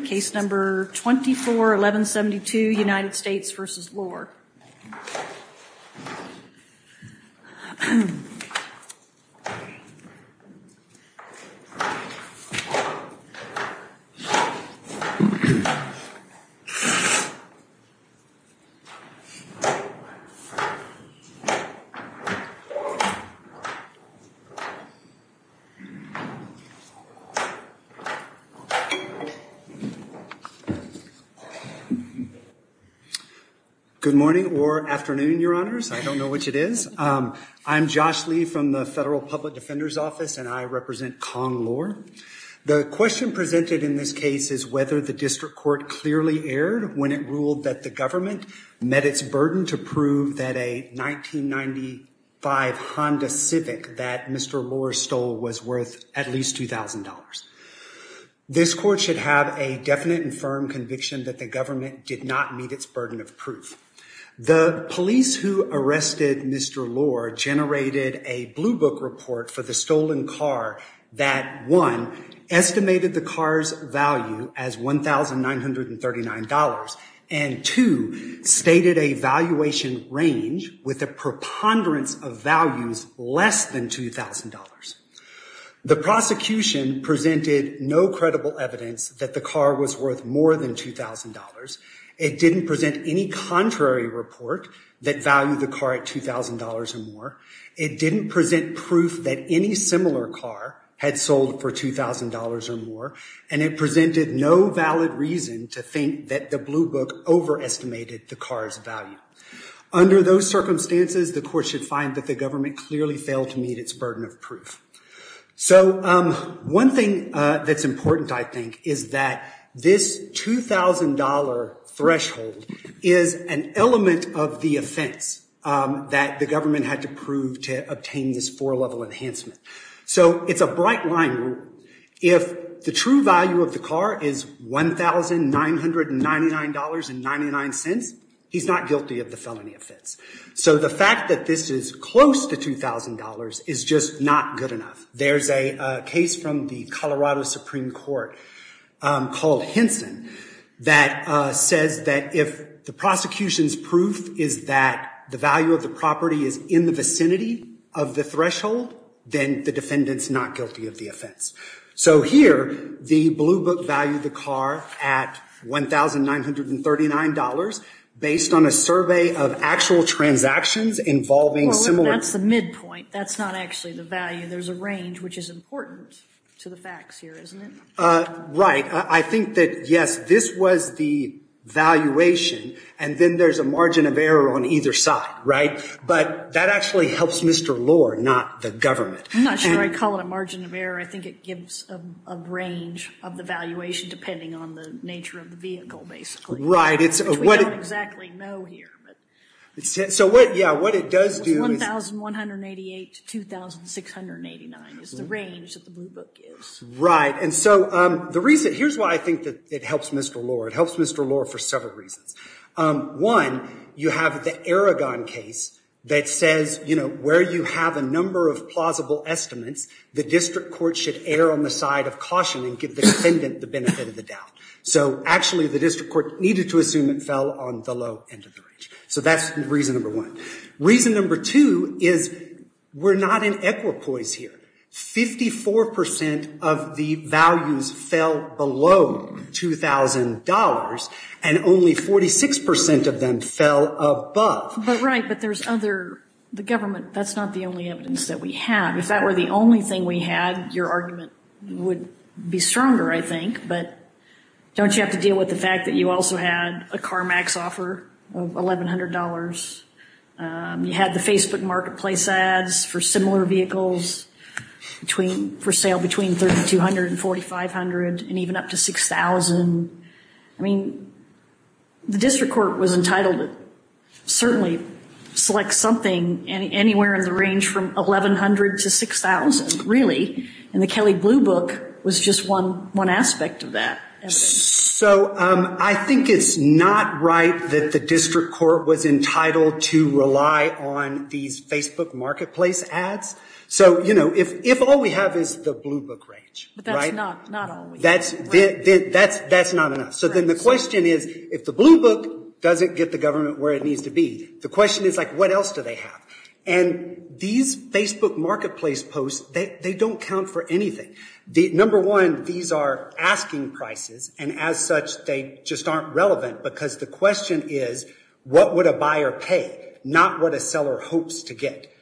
case number 24-1172 United States v. Lor Good morning or afternoon, Your Honors. I don't know which it is. I'm Josh Lee from the Federal Public Defender's Office and I represent Conn. Lor. The question presented in this case is whether the district court clearly erred when it ruled that the government met its burden to prove that a 1995 Honda Civic that Mr. Lor stole was worth at least $2,000. This court should have a definite and firm conviction that the government did not meet its burden of proof. The police who arrested Mr. Lor generated a blue book report for the stolen car that 1. Estimated the car's value as $1,939 and 2. Stated a valuation range with a preponderance of values less than $2,000. The prosecution presented no credible evidence that the car was worth more than $2,000. It didn't present any contrary report that valued the car at $2,000 or more. It didn't present proof that any similar car had sold for $2,000 or more and it presented no valid reason to think that the blue book overestimated the car's value. Under those circumstances, the court should find that the government clearly failed to meet its burden of proof. So one thing that's important, I think, is that this $2,000 threshold is an element of the offense that the government had to prove to obtain this four-level enhancement. So it's a bright line rule. If the true value of the car is $1,999.99, he's not guilty of the felony offense. So the fact that this is close to $2,000 is just not good enough. There's a case from the Colorado Supreme Court called Henson that says that if the prosecution's proof is that the value of the property is in the vicinity of the threshold, then the defendant's not guilty of the offense. So here, the blue book valued the car at $1,939 based on a survey of actual transactions involving similar- Well, that's the midpoint. That's not actually the value. There's a range, which is important to the facts here, isn't it? Right. I think that, yes, this was the valuation and then there's a margin of error on either side, right? But that actually helps Mr. Lohr, not the government. I'm not sure I'd call it a margin of error. I think it gives a range of the valuation depending on the nature of the vehicle, basically. Right. It's- Which we don't exactly know here, but- So what, yeah, what it does do is- $1,188 to $2,689 is the range that the blue book gives. Right. And so the reason, here's why I think that it helps Mr. Lohr. It helps Mr. Lohr for several reasons. One, you have the Aragon case that says, you know, where you have a couple estimates, the district court should err on the side of caution and give the defendant the benefit of the doubt. So, actually, the district court needed to assume it fell on the low end of the range. So that's reason number one. Reason number two is we're not in equipoise here. Fifty-four percent of the values fell below $2,000 and only 46 percent of them fell above. But, right, but there's other- the government, that's not the only evidence that we have. If that were the only thing we had, your argument would be stronger, I think. But don't you have to deal with the fact that you also had a CarMax offer of $1,100. You had the Facebook marketplace ads for similar vehicles for sale between $3,200 and $4,500 and even up to $6,000. I mean, the district court was entitled to certainly select something anywhere in the range from $1,100 to $6,000, really, and the Kelley Blue Book was just one aspect of that. So, I think it's not right that the district court was entitled to rely on these Facebook marketplace ads. So, you know, if all we have is the Blue Book range, right? But that's not all we have. That's not enough. So then the question is, if the Blue Book doesn't get the government where it needs to be, the question is, like, what else do they have? And these Facebook marketplace posts, they don't count for anything. Number one, these are asking prices, and as such, they just aren't relevant because the question is, what would a buyer pay, not what a seller hopes to get.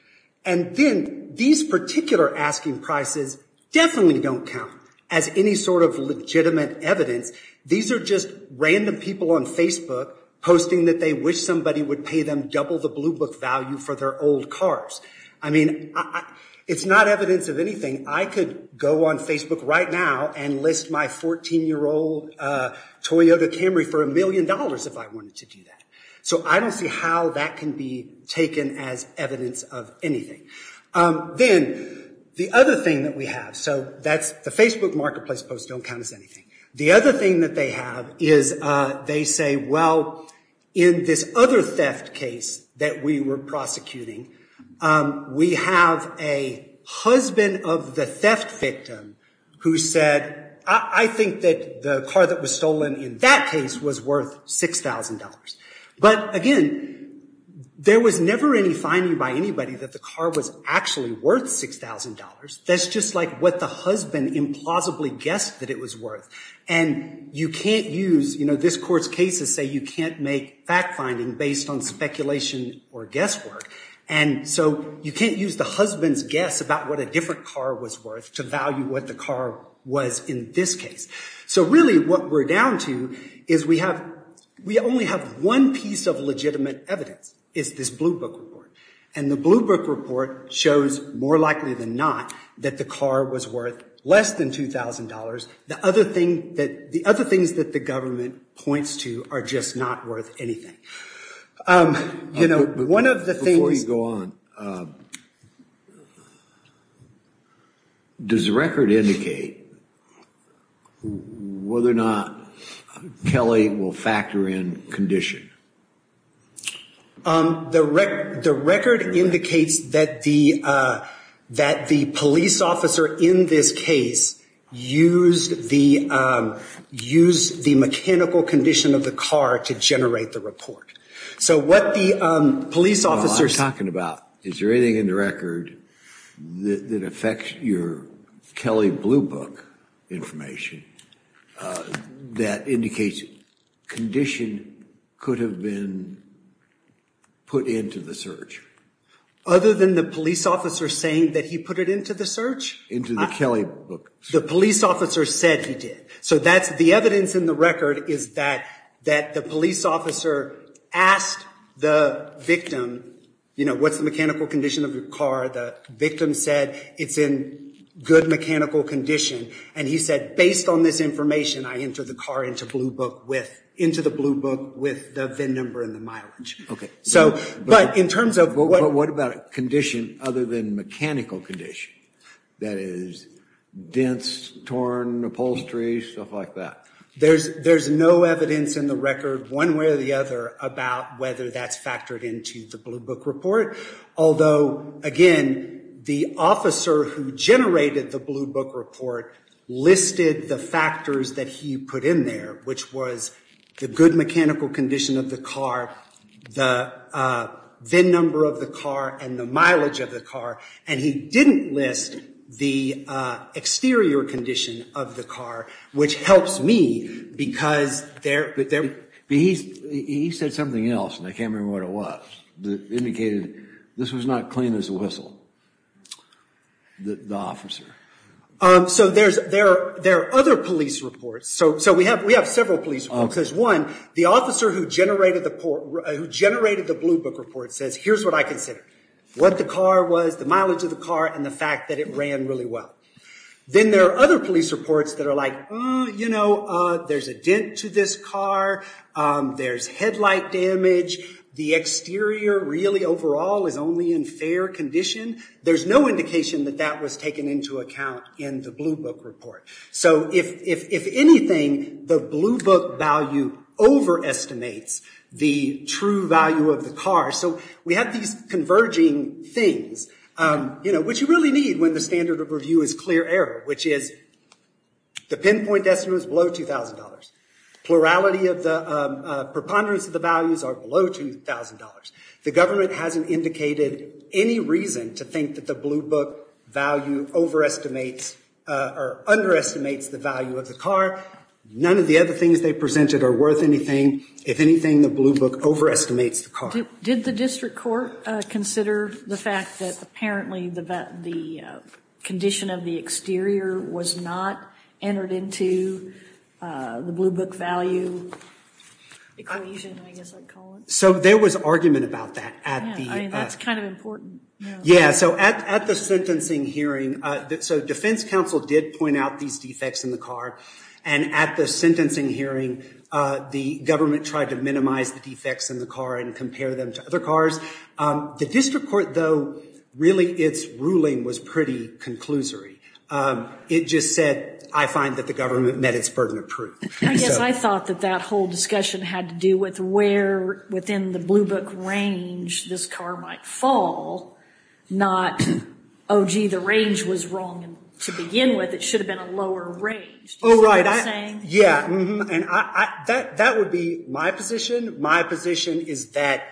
And then these particular asking prices definitely don't count as any sort of legitimate evidence. These are just random people on Facebook posting that they wish somebody would pay them double the Blue Book value for their old cars. I mean, it's not evidence of anything. I could go on Facebook right now and list my 14-year-old Toyota Camry for a million dollars if I wanted to do that. So I don't see how that can be taken as evidence of anything. Then, the other thing that we have, so that's the Facebook marketplace posts don't count as anything. The other thing that they have is they say, well, in this other theft case that we were prosecuting, we have a husband of the theft victim who said, I think that the car that was stolen in that case was worth $6,000. But again, there was never any finding by anybody that the car was actually worth $6,000. That's just like what the husband implausibly guessed that it was worth. And you can't use, you know, this court's cases say you can't make fact-finding based on speculation or guesswork. And so you can't use the husband's guess about what a different car was worth to value what the car was in this case. So really, what we're down to is we have, we only have one piece of legitimate evidence, is this Blue Book report. And the Blue Book report shows, more likely than not, that the car was worth less than $2,000. The other thing that, the other things that the government points to are just not worth anything. You know, one of the things... Before you go on, does the record indicate whether or not Kelly will factor in condition? The record indicates that the police officer in this case used the mechanical condition of the car to generate the report. So what the police officers... I'm talking about, is there anything in the record that affects your Kelly Blue Book information that indicates condition could have been put into the search? Other than the police officer saying that he put it into the search? Into the Kelly Book. The police officer said he did. So that's, the evidence in the record is that, that the police officer asked the victim, you know, what's the mechanical condition of your car? The victim said it's in good mechanical condition. And he said, based on this information, I enter the car into Blue Book with, into the Blue Book with the VIN number and the mileage. Okay. So, but in terms of... But what about condition other than mechanical condition? That is, dense, torn, upholstery, stuff like that. There's, there's no evidence in the record, one way or the other, about whether that's factored into the Blue Book report. Although, again, the officer who generated the Blue Book report listed the factors that he put in there, which was the good mechanical condition of the car, the VIN number of the car and the mileage of the car. And he didn't list the exterior condition of the car, which helps me because there... But he said something else, and I can't remember what it was, that indicated this was not clean as a whistle. The officer. So there's, there are, there are other police reports. So, so we have, we have several police reports. There's one, the officer who generated the port, who generated the Blue Book report says, here's what I consider. What the car was, the mileage of the car and the fact that it ran really well. Then there are other police reports that are like, you know, there's a dent to this car. There's headlight damage. The exterior really overall is only in fair condition. There's no indication that that was taken into account in the Blue Book report. So if, if, if anything, the Blue Book value overestimates the true value of the car. So we have these converging things, you know, which you really need when the standard of review is clear error, which is the pinpoint estimate was below $2,000. Plurality of the preponderance of the values are below $2,000. The government hasn't indicated any reason to think that the Blue Book value overestimates or underestimates the value of the car. None of the other things they presented are worth anything. If anything, the Blue Book overestimates the car. Did the district court consider the fact that apparently the condition of the exterior was not entered into the Blue Book value equation, I guess I'd call it? So there was argument about that. I mean, that's kind of important. Yeah. So at the sentencing hearing, so defense counsel did point out these defects in the car. And at the sentencing hearing, the government tried to minimize the defects in the car and compare them to other cars. The district court, though, really, its ruling was pretty conclusory. It just said, I find that the government met its burden of proof. I thought that that whole discussion had to do with where within the Blue Book range this car might fall, not, oh, gee, the range was wrong to begin with. It should have been a lower range. Oh, right. Yeah. And that would be my position. My position is that,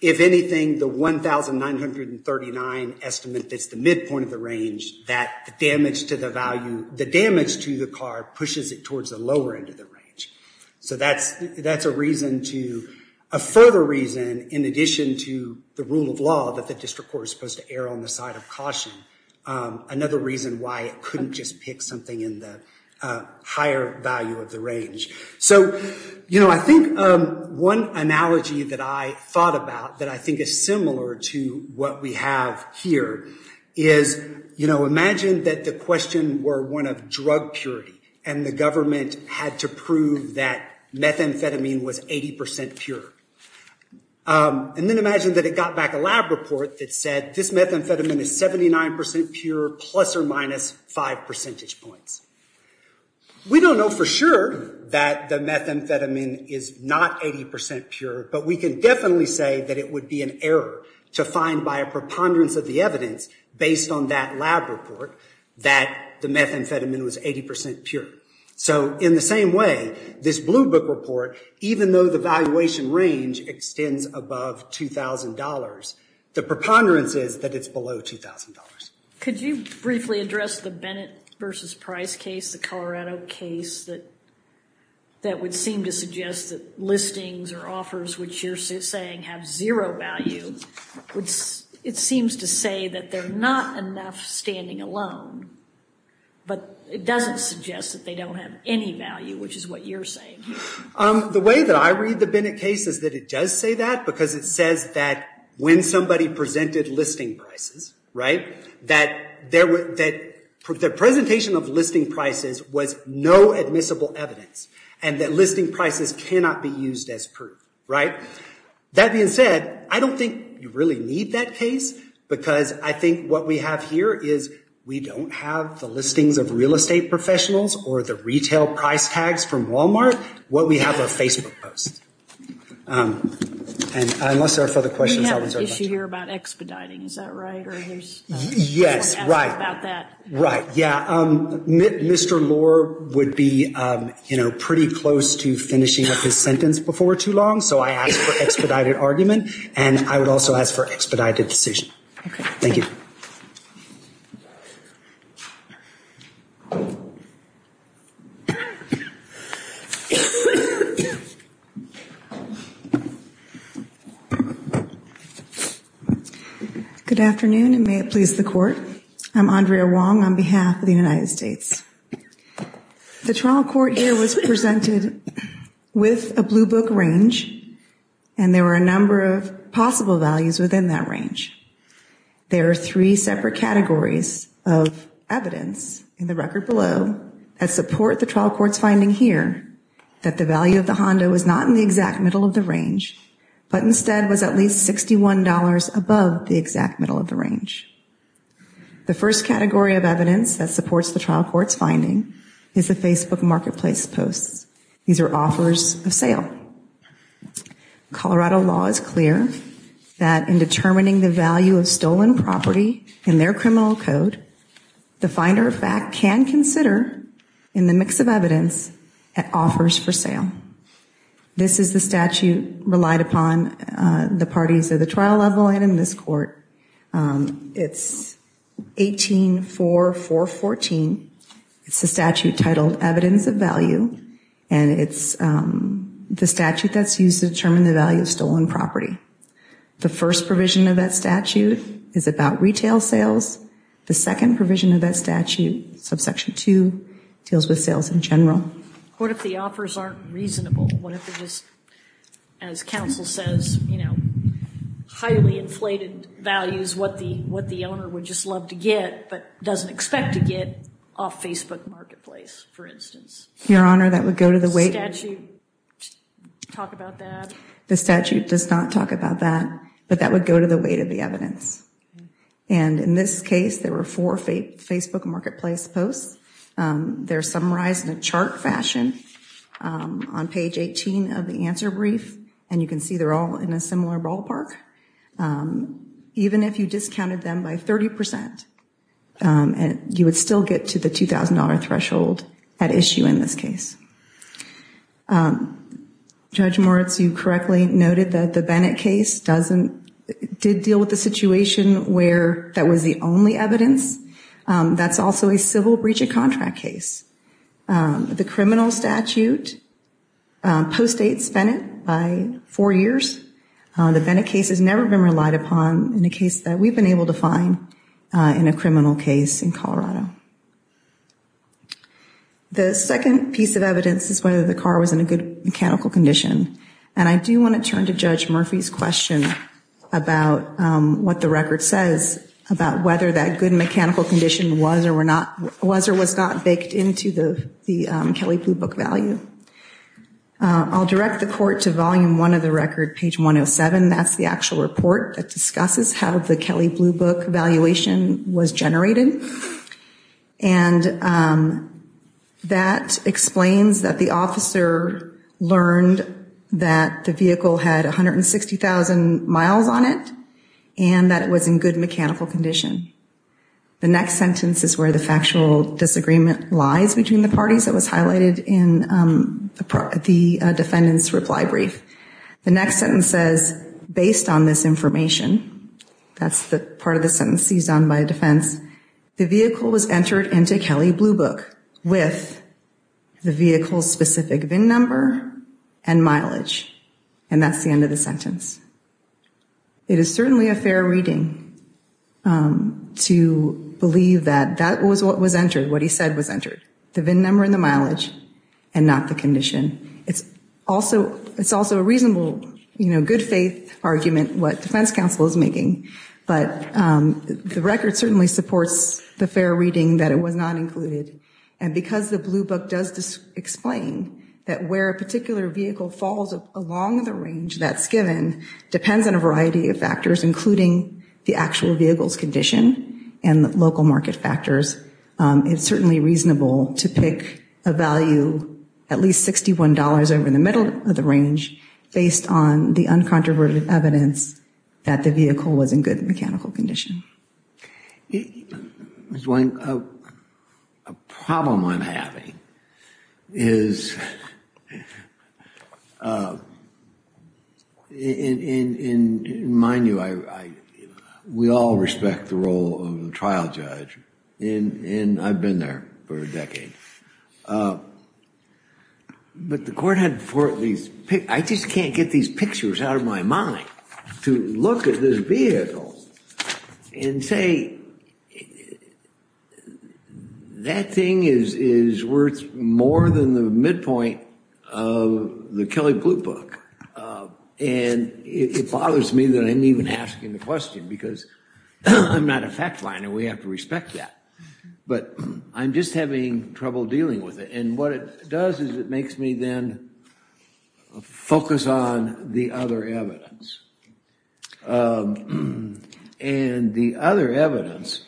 if anything, the 1939 estimate that's the midpoint of the range, that the damage to the value, the damage to the car pushes it towards the lower end of the range. So that's a reason to, a further reason, in addition to the rule of law that the district court is supposed to err on the side of caution. Another reason why it shouldn't just pick something in the higher value of the range. So, you know, I think one analogy that I thought about that I think is similar to what we have here is, you know, imagine that the question were one of drug purity and the government had to prove that methamphetamine was 80 percent pure. And then imagine that it got back a lab report that said this methamphetamine is 79 percent pure plus or minus five percentage points. We don't know for sure that the methamphetamine is not 80 percent pure, but we can definitely say that it would be an error to find by a preponderance of the evidence based on that lab report that the methamphetamine was 80 percent pure. So in the same way, this Blue Book report, even though the valuation range extends above $2,000, the preponderance is that it's below $2,000. Could you briefly address the Bennett versus Price case, the Colorado case, that that would seem to suggest that listings or offers which you're saying have zero value, which it seems to say that they're not enough standing alone, but it doesn't suggest that they don't have any value, which is what you're saying. The way that I read the Bennett case is that it does say that because it says that when somebody presented listing prices, right, that their presentation of listing prices was no admissible evidence and that listing prices cannot be used as proof, right? That being said, I don't think you really need that case because I think what we have here is we don't have the listings of real estate professionals or the retail price tags from Walmart. What we have are Facebook posts. And unless there are further questions, I'll insert a bunch. We have an issue here about expediting, is that right? Yes, right. Right, yeah. Mr. Lohr would be, you know, pretty close to finishing up his sentence before too long, so I ask for expedited argument, and I would also ask for expedited decision. Thank you. Good afternoon, and may it please the court. I'm Andrea Wong on behalf of the United States. The trial court here was presented with a blue book range, and there were a number of possible values within that range. There are three separate categories of evidence in the record below that support the trial court's finding here that the value of the Honda was not in the exact middle of the range, but instead was at least $61 above the exact middle of the range. The first category of evidence that supports the trial court's finding is the Facebook marketplace posts. These are offers of sale. Colorado law is clear that in determining the value of stolen property in their criminal code, the finder of fact can consider, in the mix of evidence, that offers for sale. This is the statute relied upon the parties of the trial level and in this court. It's 184414. It's a statute titled Evidence of Value, and it's the statute that's used to determine the value of stolen property. The first provision of that statute is about retail sales. The second provision of that statute, subsection 2, deals with sales in general. What if the offers aren't reasonable? What if they're just, as counsel says, you know, highly inflated values, what the owner would just love to get, but doesn't expect to get off Facebook Marketplace, for instance. Your Honor, that would go to the weight. The statute does not talk about that, but that would go to the weight of the evidence. And in this case, there were four Facebook Marketplace posts. They're summarized in a chart fashion on page 18 of the answer brief, and you can see they're all in a similar ballpark. Even if you discounted them by 30%, and you would still get to the $2,000 threshold at issue in this case. Judge Moritz, you correctly noted that the Bennett case doesn't, did deal with the situation where that was the only evidence. That's also a civil breach of contract case. The criminal statute postdates Bennett by four years. The Bennett case has never been relied upon in a case that we've been able to find in a criminal case in Colorado. The second piece of evidence is whether the car was in a good mechanical condition, and I do want to turn to Judge Murphy's question about what the record says about whether that good mechanical condition was or was not baked into the Kelly Blue Book value. I'll direct the court to volume one of the record, page 107. That's the actual report that discusses how the Kelly Blue Book valuation was generated, and that explains that the officer learned that the vehicle had 160,000 miles on it, and that it was in good mechanical condition. The next sentence is where the factual disagreement lies between the parties that was highlighted in the defendant's reply brief. The next sentence says, based on this information, that's the part of the sentence seized on by defense, the vehicle was entered into Kelly Blue Book with the vehicle's specific VIN number and mileage, and that's the end of the sentence. It is certainly a fair reading to believe that that was what was entered, what he said was entered, the VIN number and the mileage, and not the condition. It's also a reasonable, you know, good faith argument what defense counsel is making, but the record certainly supports the fair reading that it was not included, and because the Blue Book does explain that where a particular vehicle falls along the range that's given depends on a variety of factors, including the actual vehicle's condition and the local market factors, it's certainly reasonable to pick a value at least $61 over in the middle of the range based on the uncontroverted evidence that the vehicle was in good mechanical condition. There's one, a problem I'm having is is mind you, I, we all respect the role of the trial judge, and I've been there for a decade, but the court had before these, I just can't get these pictures out of my mind to look at this vehicle and say that thing is worth more than the midpoint of the Kelly Blue Book, and it bothers me that I'm even asking the question, because I'm not a fact-finder, we have to respect that, but I'm just having trouble dealing with it, and what it does is it makes me then focus on the other evidence, and the other evidence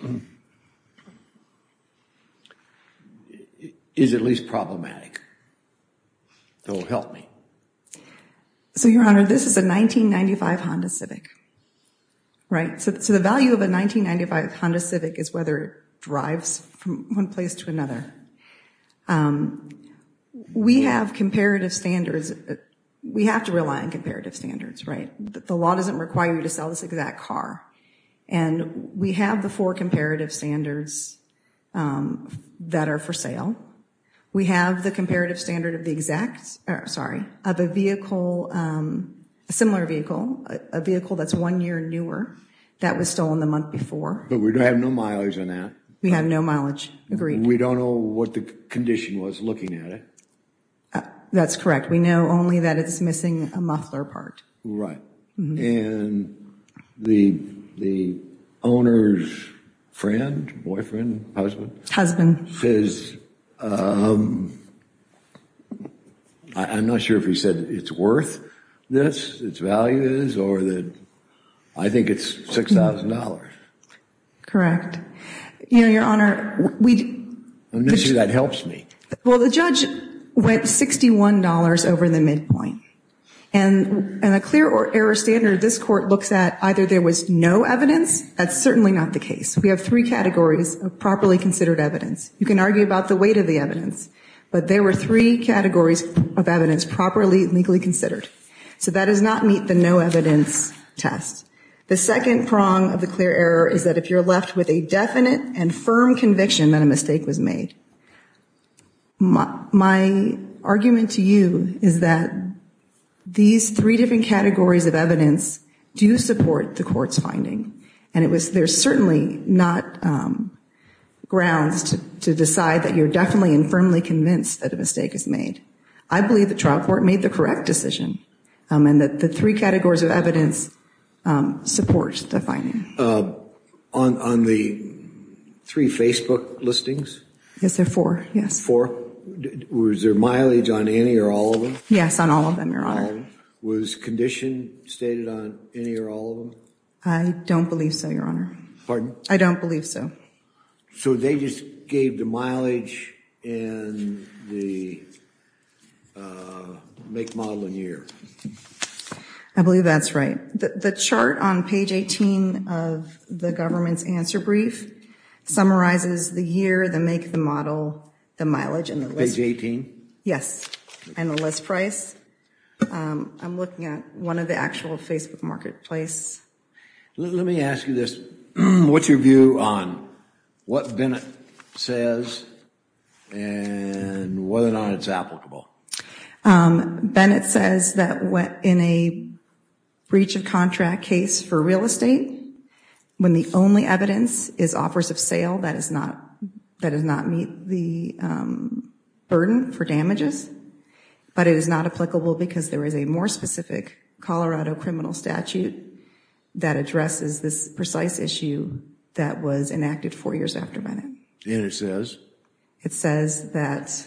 is at least problematic, that will help me. So your honor, this is a 1995 Honda Civic, right, so the value of a 1995 Honda Civic is whether it drives from one place to another. We have comparative standards, we have to rely on comparative standards, right, the law doesn't require you to sell this exact car, and we have the four comparative standards that are for sale. We have the comparative standard of the exact, sorry, of a vehicle, a similar vehicle, a vehicle that's one year newer, that was stolen the month before. But we don't have no mileage on that. We have no mileage, agreed. We don't know what the condition was looking at it. That's correct, we know only that it's missing a muffler part. Right, and the owner's friend, boyfriend, husband, says I'm not sure if he said it's worth this, its value is, or that I think it's $6,000. Correct. You know, your honor, we well, the judge went $61 over the midpoint, and in a clear or error standard, this court looks at either there was no evidence, that's certainly not the case. We have three categories of properly considered evidence. You can argue about the weight of the evidence, but there were three categories of evidence properly legally considered. So that does not meet the no evidence test. The second prong of the clear error is that if you're left with a definite and firm conviction that a mistake was made. My argument to you is that these three different categories of evidence do support the court's finding, and it was, there's certainly not grounds to decide that you're definitely and firmly convinced that a mistake is made. I believe the trial court made the correct decision, and that the three categories of evidence support the finding. On the three Facebook listings? Yes, there are four, yes. Four? Was there mileage on any or all of them? Yes, on all of them, your honor. Was condition stated on any or all of them? I don't believe so, your honor. Pardon? I don't believe so. So they just gave the mileage and the make, model, and year. I believe that's right. The chart on page 18 of the government's answer brief summarizes the year, the make, the model, the mileage, and the list price. I'm looking at one of the actual Facebook marketplace. Let me ask you this. What's your view on what Bennett says and whether or not it's applicable? Bennett says that in a breach of contract case for real estate, when the only evidence is offers of sale, that does not meet the burden for damages. But it is not applicable because there is a more specific Colorado criminal statute that addresses this precise issue that was enacted four years after Bennett. And it says? It says that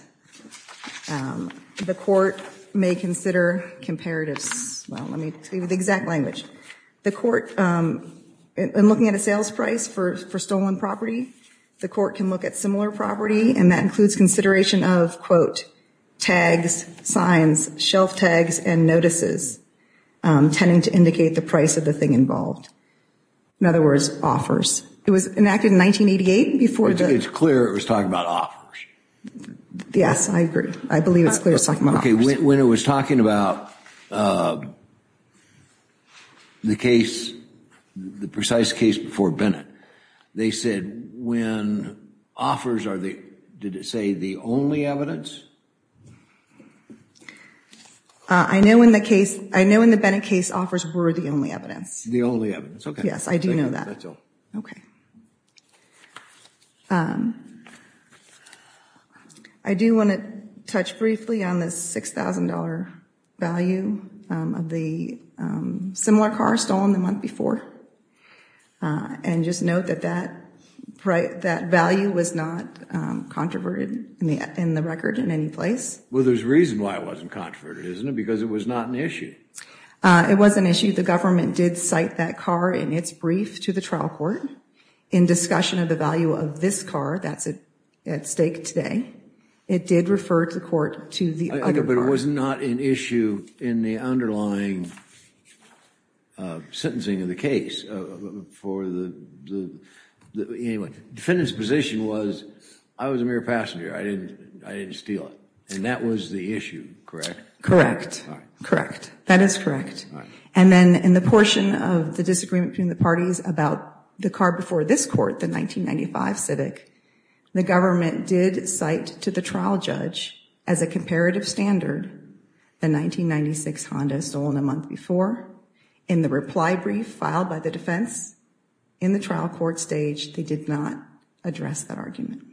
the court may consider comparatives. Well, let me tell you the exact language. The court, in looking at a sales price for stolen property, the court can look at similar property and that includes consideration of, quote, tags, signs, shelf tags, and notices tending to indicate the price of the thing involved. In other words, offers. It was enacted in 1988 before. It's clear it was talking about offers. Yes, I agree. I believe it's clear it's talking about offers. Okay, when it was talking about the case, the precise case before Bennett, they said when offers are the, did it say, the only evidence? I know in the case, I know in the Bennett case, offers were the only evidence. The only evidence, okay. Yes, I do know that. That's all. Okay. I do want to touch briefly on the $6,000 value of the similar car stolen the month before. And just note that that value was not controverted in the record in any place. Well, there's a reason why it wasn't controverted, isn't it? Because it was not an issue. It was an issue. The government did cite that car in its brief to the trial court in discussion of the value of this car. That's at stake today. It did refer to the court to the other car. But it was not an issue in the underlying sentencing of the case for the, anyway, defendant's position was, I was a mere passenger. I didn't steal it. And that was the issue, correct? Correct. Correct. That is correct. And then in the portion of the disagreement between the parties about the car before this court, the 1995 Civic, the government did cite to the trial judge as a comparative standard the 1996 Honda stolen a month before. In the reply brief filed by the defense in the trial court stage, they did not address that argument.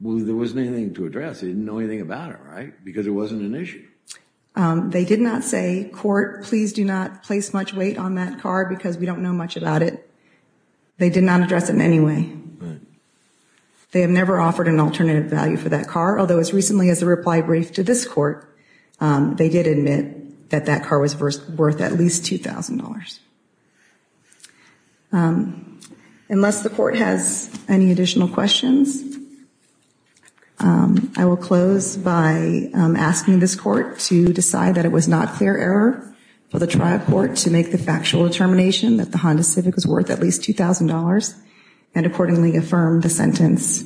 Well, there wasn't anything to address. They didn't know anything about it, right? Because it wasn't an issue. They did not say, court, please do not place much weight on that car because we don't know much about it. They did not address it in any way. They have never offered an alternative value for that car. Although as recently as the reply brief to this court, they did admit that that car was worth at least $2,000. Unless the court has any additional questions, I will close by asking this court to decide that it was not fair error for the trial court to make the factual determination that the Honda Civic was worth at least $2,000 and accordingly affirm the sentence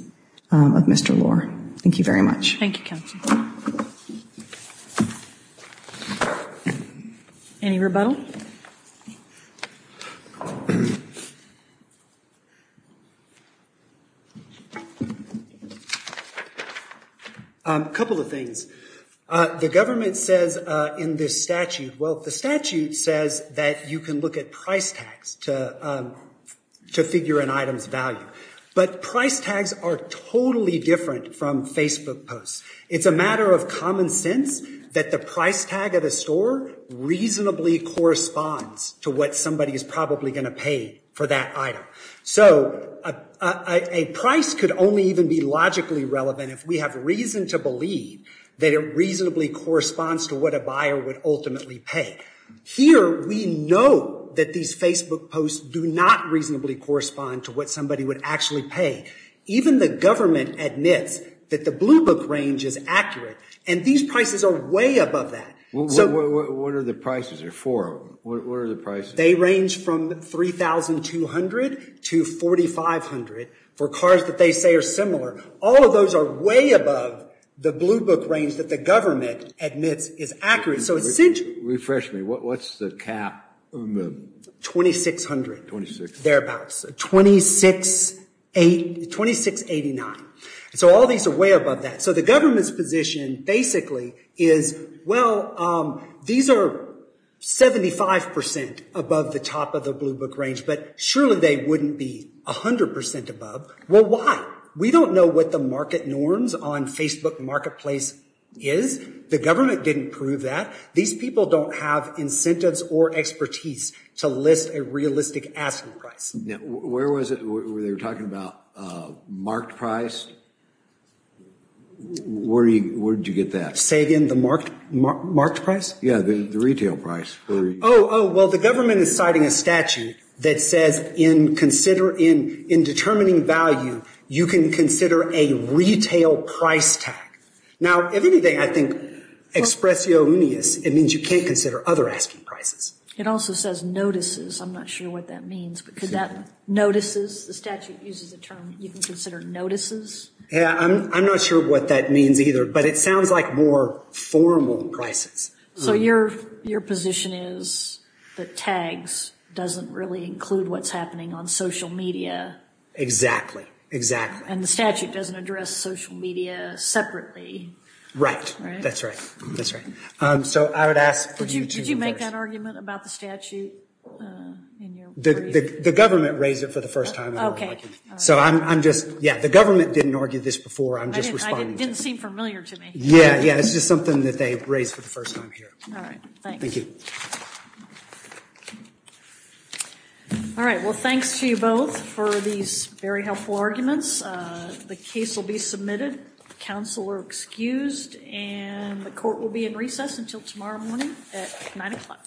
of Mr. Lohr. Thank you very much. Thank you, counsel. Any rebuttal? A couple of things. The government says in this statute, well, the statute says that you can look at price tags to to figure an item's value, but price tags are totally different from Facebook posts. It's a matter of common sense that the price tag of the store reasonably corresponds to what somebody is probably going to pay for that item. So a price could only even be logically relevant if we have reason to believe that it reasonably corresponds to what a buyer would ultimately pay. Here, we know that these Facebook posts do not reasonably correspond to what somebody would actually pay. Even the government admits that the Blue Book range is accurate, and these prices are way above that. What are the prices? There are four of them. What are the prices? They range from $3,200 to $4,500 for cars that they say are similar. All of those are way above the Blue Book range that the government admits is accurate. So essentially... Refresh me. What's the cap? $2,600. Thereabouts. $2,689. So all these are way above that. So the government's position basically is, well, these are 75% above the top of the Blue Book range, but surely they wouldn't be a hundred percent above. Well, why? We don't know what the market norms on Facebook marketplace is. The government didn't prove that. These people don't have incentives or expertise to list a realistic asking price. Where was it where they were talking about marked price? Where did you get that? Say again? The marked price? Yeah, the retail price. Oh, well, the government is citing a statute that says in determining value, you can consider a retail price tag. Now, if anything, I think expressionis, it means you can't consider other asking prices. It also says notices. I'm not sure what that means because that notices, the statute uses a term, you can consider notices. Yeah, I'm not sure what that means either, but it sounds like more formal prices. So your position is that tags doesn't really include what's happening on social media? Exactly, exactly. And the statute doesn't address social media separately. Right, that's right. That's right. So I would ask for you to... Did you make that argument about the statute? The government raised it for the first time. Okay. So I'm just, yeah, the government didn't argue this before. I'm just responding. It didn't seem familiar to me. Yeah. Yeah, it's just something that they raised for the first time here. All right. Thank you. All right, well, thanks to you both for these very helpful arguments. The case will be submitted. Counsel are excused and the court will be in recess until tomorrow morning at 9 o'clock. Thank you.